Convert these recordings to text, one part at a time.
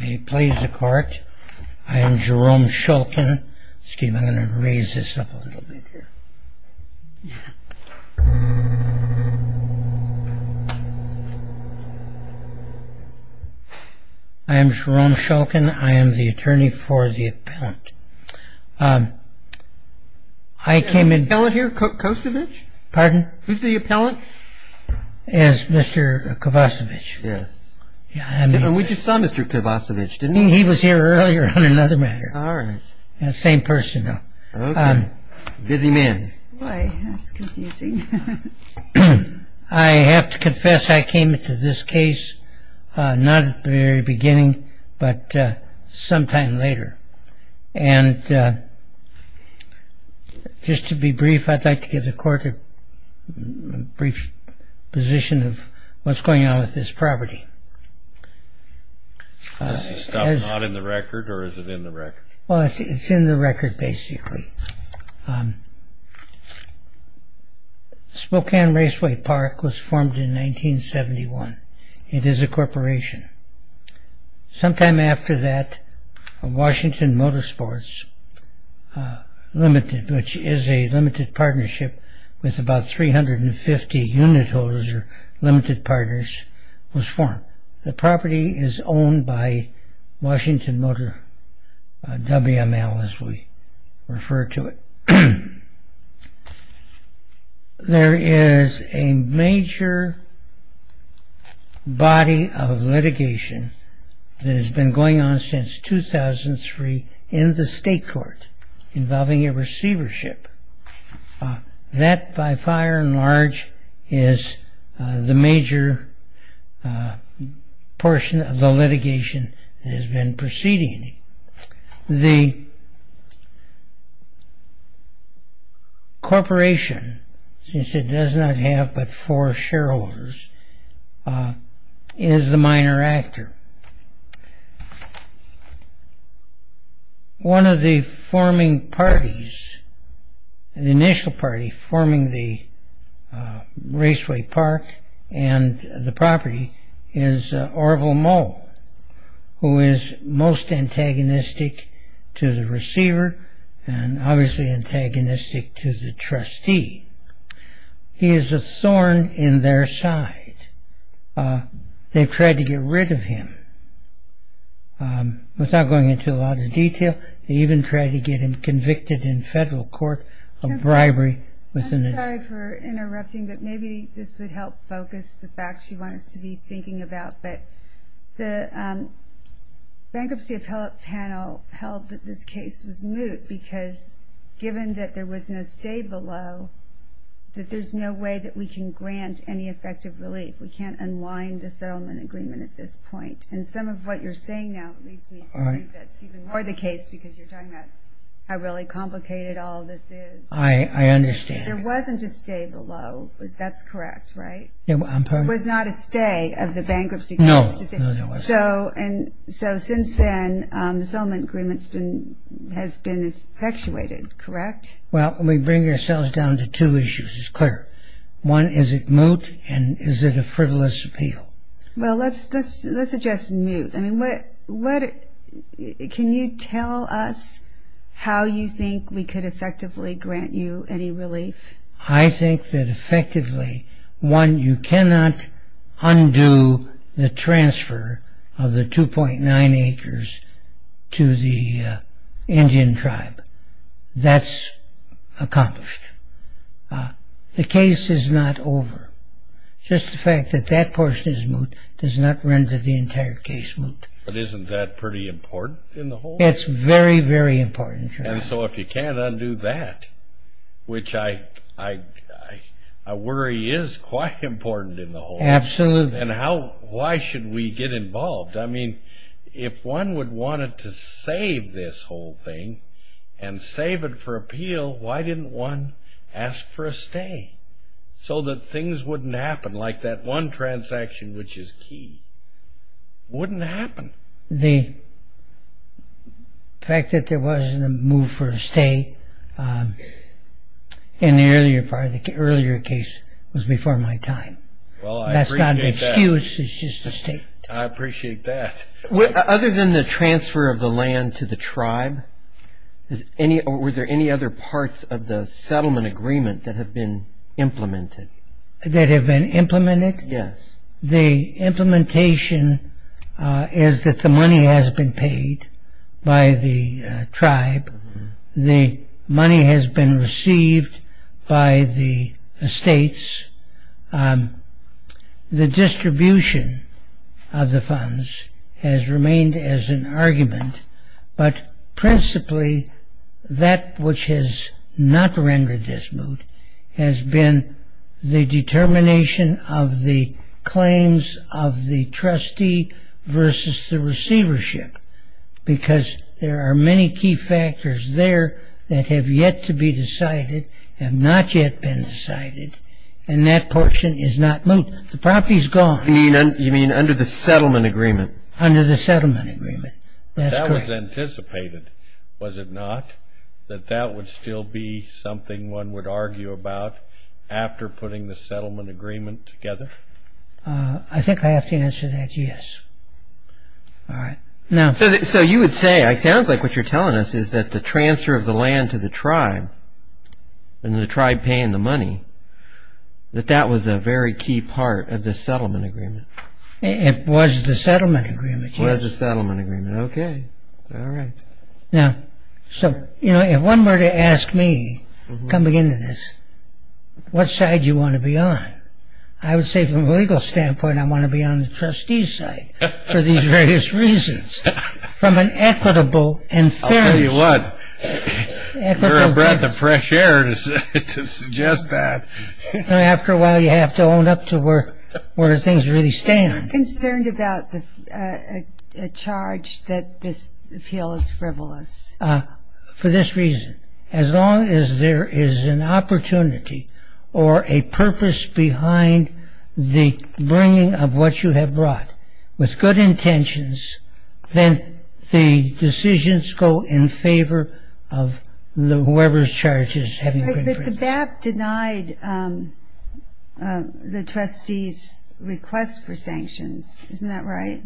He plays the court. I am Jerome Shulkin. Excuse me, I'm going to raise this up a little bit here. I am Jerome Shulkin. I am the attorney for the appellant. Is there an appellant here, Kovacevich? Pardon? Who's the appellant? It's Mr. Kovacevich. Yes. And we just saw Mr. Kovacevich, didn't we? He was here earlier on another matter. All right. Same person, though. Busy man. Boy, that's confusing. I have to confess I came into this case not at the very beginning, but sometime later. And just to be brief, I'd like to give the court a brief position of what's going on with this property. Is this stuff not in the record, or is it in the record? Well, it's in the record, basically. Spokane Raceway Park was formed in 1971. It is a corporation. Sometime after that, Washington Motorsports Limited, which is a limited partnership with about 350 unit holders or limited partners, was formed. The property is owned by Washington Motor WML, as we refer to it. There is a major body of litigation that has been going on since 2003 in the state court involving a receivership. That, by far and large, is the major portion of the litigation that has been proceeding. The corporation, since it does not have but four shareholders, is the minor actor. One of the forming parties, the initial party forming the Raceway Park and the property, is Orville Moe, who is most antagonistic to the receiver and obviously antagonistic to the trustee. He is a thorn in their side. They've tried to get rid of him without going into a lot of detail. They even tried to get him convicted in federal court of bribery. I'm sorry for interrupting, but maybe this would help focus the facts you want us to be thinking about. The bankruptcy appellate panel held that this case was moot because, given that there was no stay below, that there's no way that we can grant any effective relief. We can't unwind the settlement agreement at this point. Some of what you're saying now leads me to believe that's even more the case because you're talking about how really complicated all this is. I understand. There wasn't a stay below. That's correct, right? I'm sorry? There was not a stay of the bankruptcy case. No, there wasn't. Since then, the settlement agreement has been effectuated, correct? Well, we bring ourselves down to two issues. It's clear. One, is it moot and is it a frivolous appeal? Well, let's address moot. Can you tell us how you think we could effectively grant you any relief? I think that effectively, one, you cannot undo the transfer of the 2.9 acres to the Indian tribe. That's accomplished. The case is not over. Just the fact that that portion is moot does not render the entire case moot. But isn't that pretty important in the whole? It's very, very important. And so if you can't undo that, which I worry is quite important in the whole. Absolutely. And why should we get involved? I mean, if one would want to save this whole thing and save it for appeal, why didn't one ask for a stay? So that things wouldn't happen like that one transaction, which is key, wouldn't happen. The fact that there wasn't a move for a stay in the earlier part of the earlier case was before my time. That's not an excuse. It's just a statement. I appreciate that. Other than the transfer of the land to the tribe, were there any other parts of the settlement agreement that have been implemented? That have been implemented? Yes. The implementation is that the money has been paid by the tribe. The money has been received by the estates. The distribution of the funds has remained as an argument. But principally, that which has not rendered this moot has been the determination of the claims of the trustee versus the receivership. Because there are many key factors there that have yet to be decided, have not yet been decided. And that portion is not moot. The property is gone. You mean under the settlement agreement? Under the settlement agreement. That's correct. That was anticipated, was it not? That that would still be something one would argue about after putting the settlement agreement together? I think I have to answer that yes. So you would say, it sounds like what you're telling us is that the transfer of the land to the tribe, and the tribe paying the money, that that was a very key part of the settlement agreement. It was the settlement agreement, yes. It was the settlement agreement. OK. All right. Now, so if one were to ask me, coming into this, what side do you want to be on? I would say from a legal standpoint, I want to be on the trustee's side for these various reasons. From an equitable and fair- I'll tell you what, you're a breath of fresh air to suggest that. After a while, you have to own up to where things really stand. I'm concerned about the charge that this appeal is frivolous. For this reason, as long as there is an opportunity or a purpose behind the bringing of what you have brought, with good intentions, then the decisions go in favor of whoever's charge is having- But the BAP denied the trustee's request for sanctions. Isn't that right?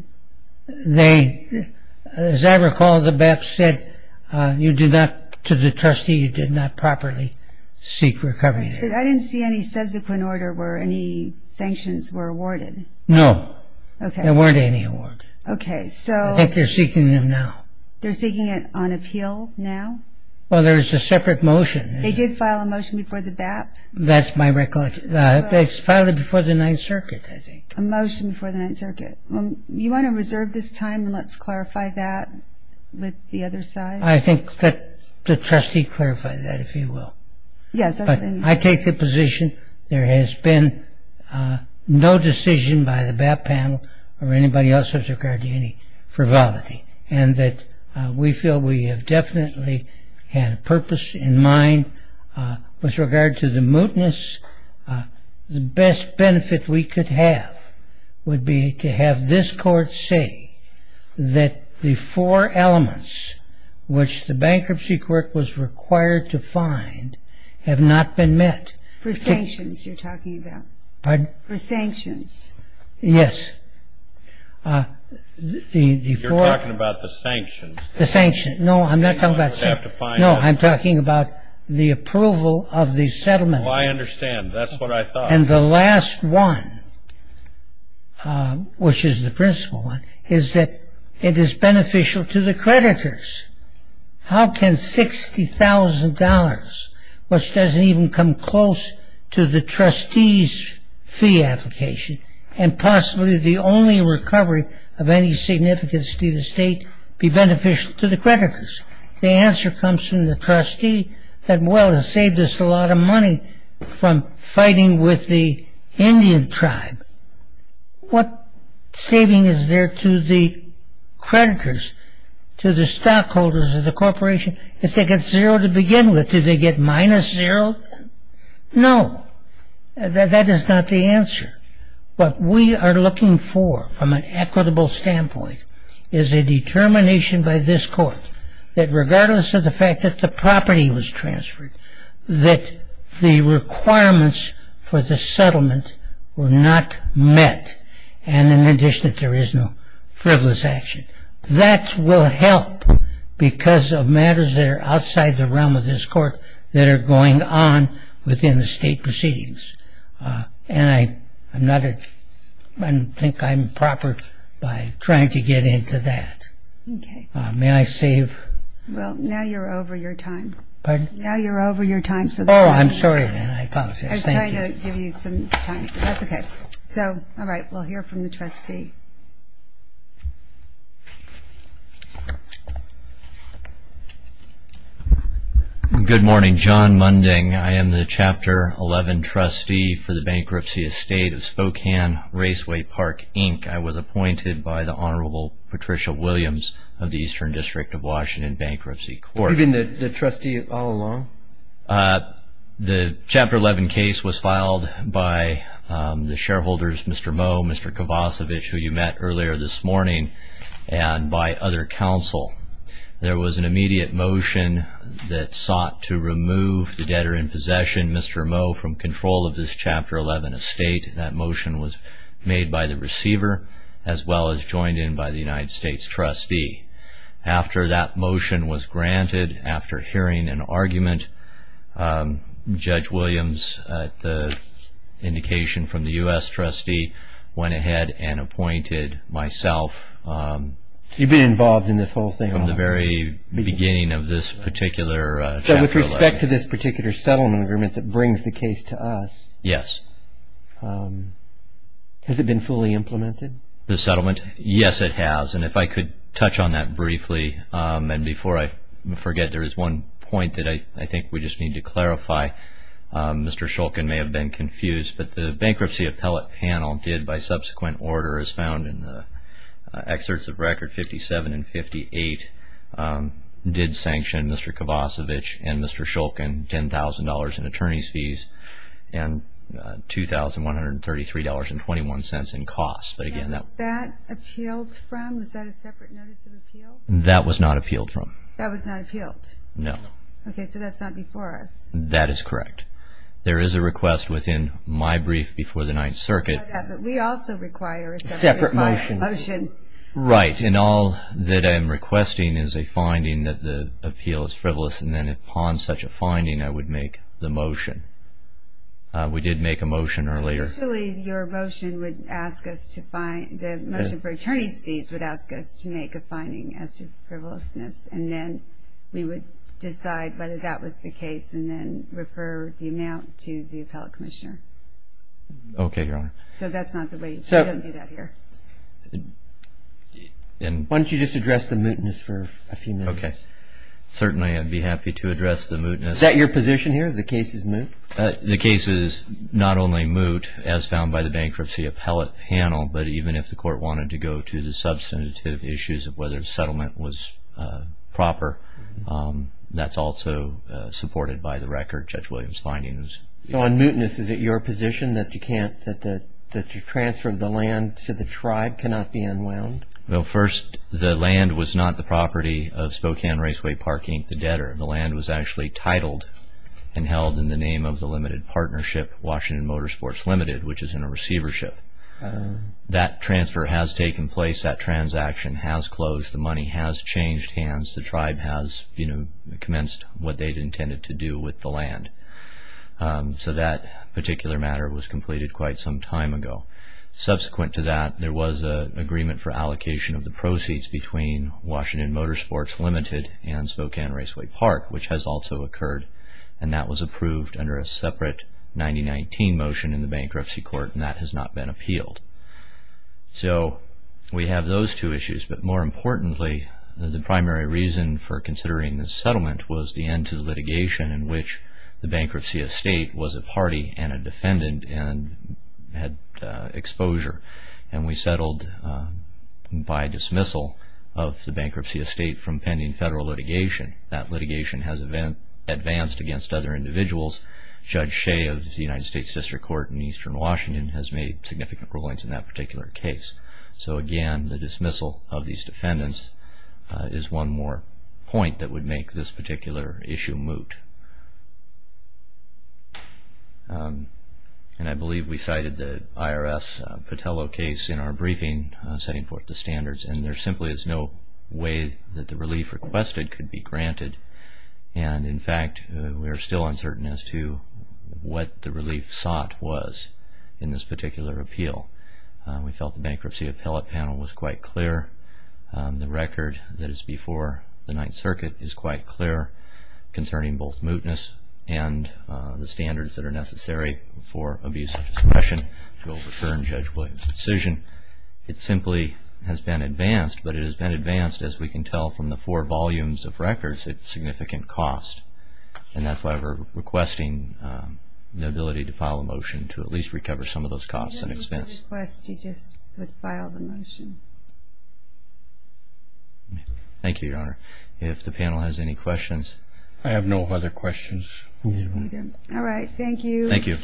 As I recall, the BAP said to the trustee, you did not properly seek recovery there. I didn't see any subsequent order where any sanctions were awarded. No. OK. There weren't any awarded. OK. I think they're seeking them now. They're seeking it on appeal now? Well, there's a separate motion. They did file a motion before the BAP? That's my recollection. They filed it before the Ninth Circuit, I think. A motion before the Ninth Circuit. You want to reserve this time and let's clarify that with the other side? I think that the trustee clarified that, if you will. But I take the position there has been no decision by the BAP panel or anybody else with regard to any frivolity, and that we feel we have definitely had a purpose in mind with regard to the mootness. The best benefit we could have would be to have this court say that the four elements, which the Bankruptcy Court was required to find, have not been met. For sanctions you're talking about? Pardon? For sanctions. Yes. You're talking about the sanctions. The sanctions. No, I'm not talking about sanctions. No, I'm talking about the approval of the settlement. Oh, I understand. That's what I thought. And the last one, which is the principal one, is that it is beneficial to the creditors. How can $60,000, which doesn't even come close to the trustee's fee application, and possibly the only recovery of any significance to the state, be beneficial to the creditors? The answer comes from the trustee that, well, it saved us a lot of money from fighting with the Indian tribe. What saving is there to the creditors, to the stockholders of the corporation, if they get zero to begin with? Do they get minus zero? No. That is not the answer. What we are looking for from an equitable standpoint is a determination by this court that regardless of the fact that the property was transferred, that the requirements for the settlement were not met, and in addition that there is no frivolous action. That will help because of matters that are outside the realm of this court that are going on within the state proceedings. And I think I'm proper by trying to get into that. May I save? Well, now you're over your time. Pardon? Now you're over your time. Oh, I'm sorry then. I apologize. Thank you. I was trying to give you some time. That's okay. So, all right, we'll hear from the trustee. Good morning. John Munding. I am the Chapter 11 trustee for the bankruptcy estate of Spokane Raceway Park, Inc. I was appointed by the Honorable Patricia Williams of the Eastern District of Washington Bankruptcy Court. Have you been the trustee all along? The Chapter 11 case was filed by the shareholders, Mr. Moe, Mr. Kovacevic, who you met earlier this morning, and by other counsel. There was an immediate motion that sought to remove the debtor in possession, Mr. Moe, from control of this Chapter 11 estate. That motion was made by the receiver as well as joined in by the United States trustee. After that motion was granted, after hearing an argument, Judge Williams, at the indication from the U.S. trustee, went ahead and appointed myself. You've been involved in this whole thing? From the very beginning of this particular Chapter 11. So with respect to this particular settlement agreement that brings the case to us. Yes. Has it been fully implemented? The settlement? Yes, it has. And if I could touch on that briefly. And before I forget, there is one point that I think we just need to clarify. Mr. Shulkin may have been confused, but the bankruptcy appellate panel did, by subsequent order as found in the excerpts of Record 57 and 58, did sanction Mr. Kovacevic and Mr. Shulkin $10,000 in attorney's fees and $2,133.21 in costs. Was that appealed from? Was that a separate notice of appeal? That was not appealed from. That was not appealed? No. Okay, so that's not before us. That is correct. There is a request within my brief before the Ninth Circuit. We also require a separate motion. Right, and all that I'm requesting is a finding that the appeal is frivolous, and then upon such a finding I would make the motion. We did make a motion earlier. Actually, your motion would ask us to find, the motion for attorney's fees would ask us to make a finding as to frivolousness, and then we would decide whether that was the case and then refer the amount to the appellate commissioner. Okay, Your Honor. So that's not the way, we don't do that here. Why don't you just address the mootness for a few minutes? Certainly, I'd be happy to address the mootness. Is that your position here, the case is moot? The case is not only moot, as found by the bankruptcy appellate panel, but even if the court wanted to go to the substantive issues of whether the settlement was proper, that's also supported by the record, Judge Williams' findings. So on mootness, is it your position that you can't, that the transfer of the land to the tribe cannot be unwound? Well, first, the land was not the property of Spokane Raceway Park, Inc., the debtor. The land was actually titled and held in the name of the limited partnership, Washington Motorsports Limited, which is in a receivership. That transfer has taken place, that transaction has closed, the money has changed hands, the tribe has commenced what they'd intended to do with the land. So that particular matter was completed quite some time ago. Subsequent to that, there was an agreement for allocation of the proceeds between Washington Motorsports Limited and Spokane Raceway Park, which has also occurred, and that was approved under a separate 1919 motion in the bankruptcy court, and that has not been appealed. So we have those two issues, but more importantly, the primary reason for considering the settlement was the end to the litigation in which the bankruptcy estate was a party and a defendant and had exposure, and we settled by dismissal of the bankruptcy estate from pending federal litigation. That litigation has advanced against other individuals. Judge Shea of the United States District Court in eastern Washington has made significant rulings in that particular case. So again, the dismissal of these defendants is one more point that would make this particular issue moot. And I believe we cited the IRS-Patello case in our briefing, setting forth the standards, and there simply is no way that the relief requested could be granted, and in fact, we are still uncertain as to what the relief sought was in this particular appeal. We felt the bankruptcy appellate panel was quite clear. The record that is before the Ninth Circuit is quite clear concerning both mootness and the standards that are necessary for abuse of discretion to overturn Judge Williams' decision. It simply has been advanced, but it has been advanced as we can tell from the four volumes of records at significant cost, and that's why we're requesting the ability to file a motion to at least recover some of those costs and expense. If you request, you just file the motion. Thank you, Your Honor. If the panel has any questions. I have no other questions. All right. Thank you. Thank you.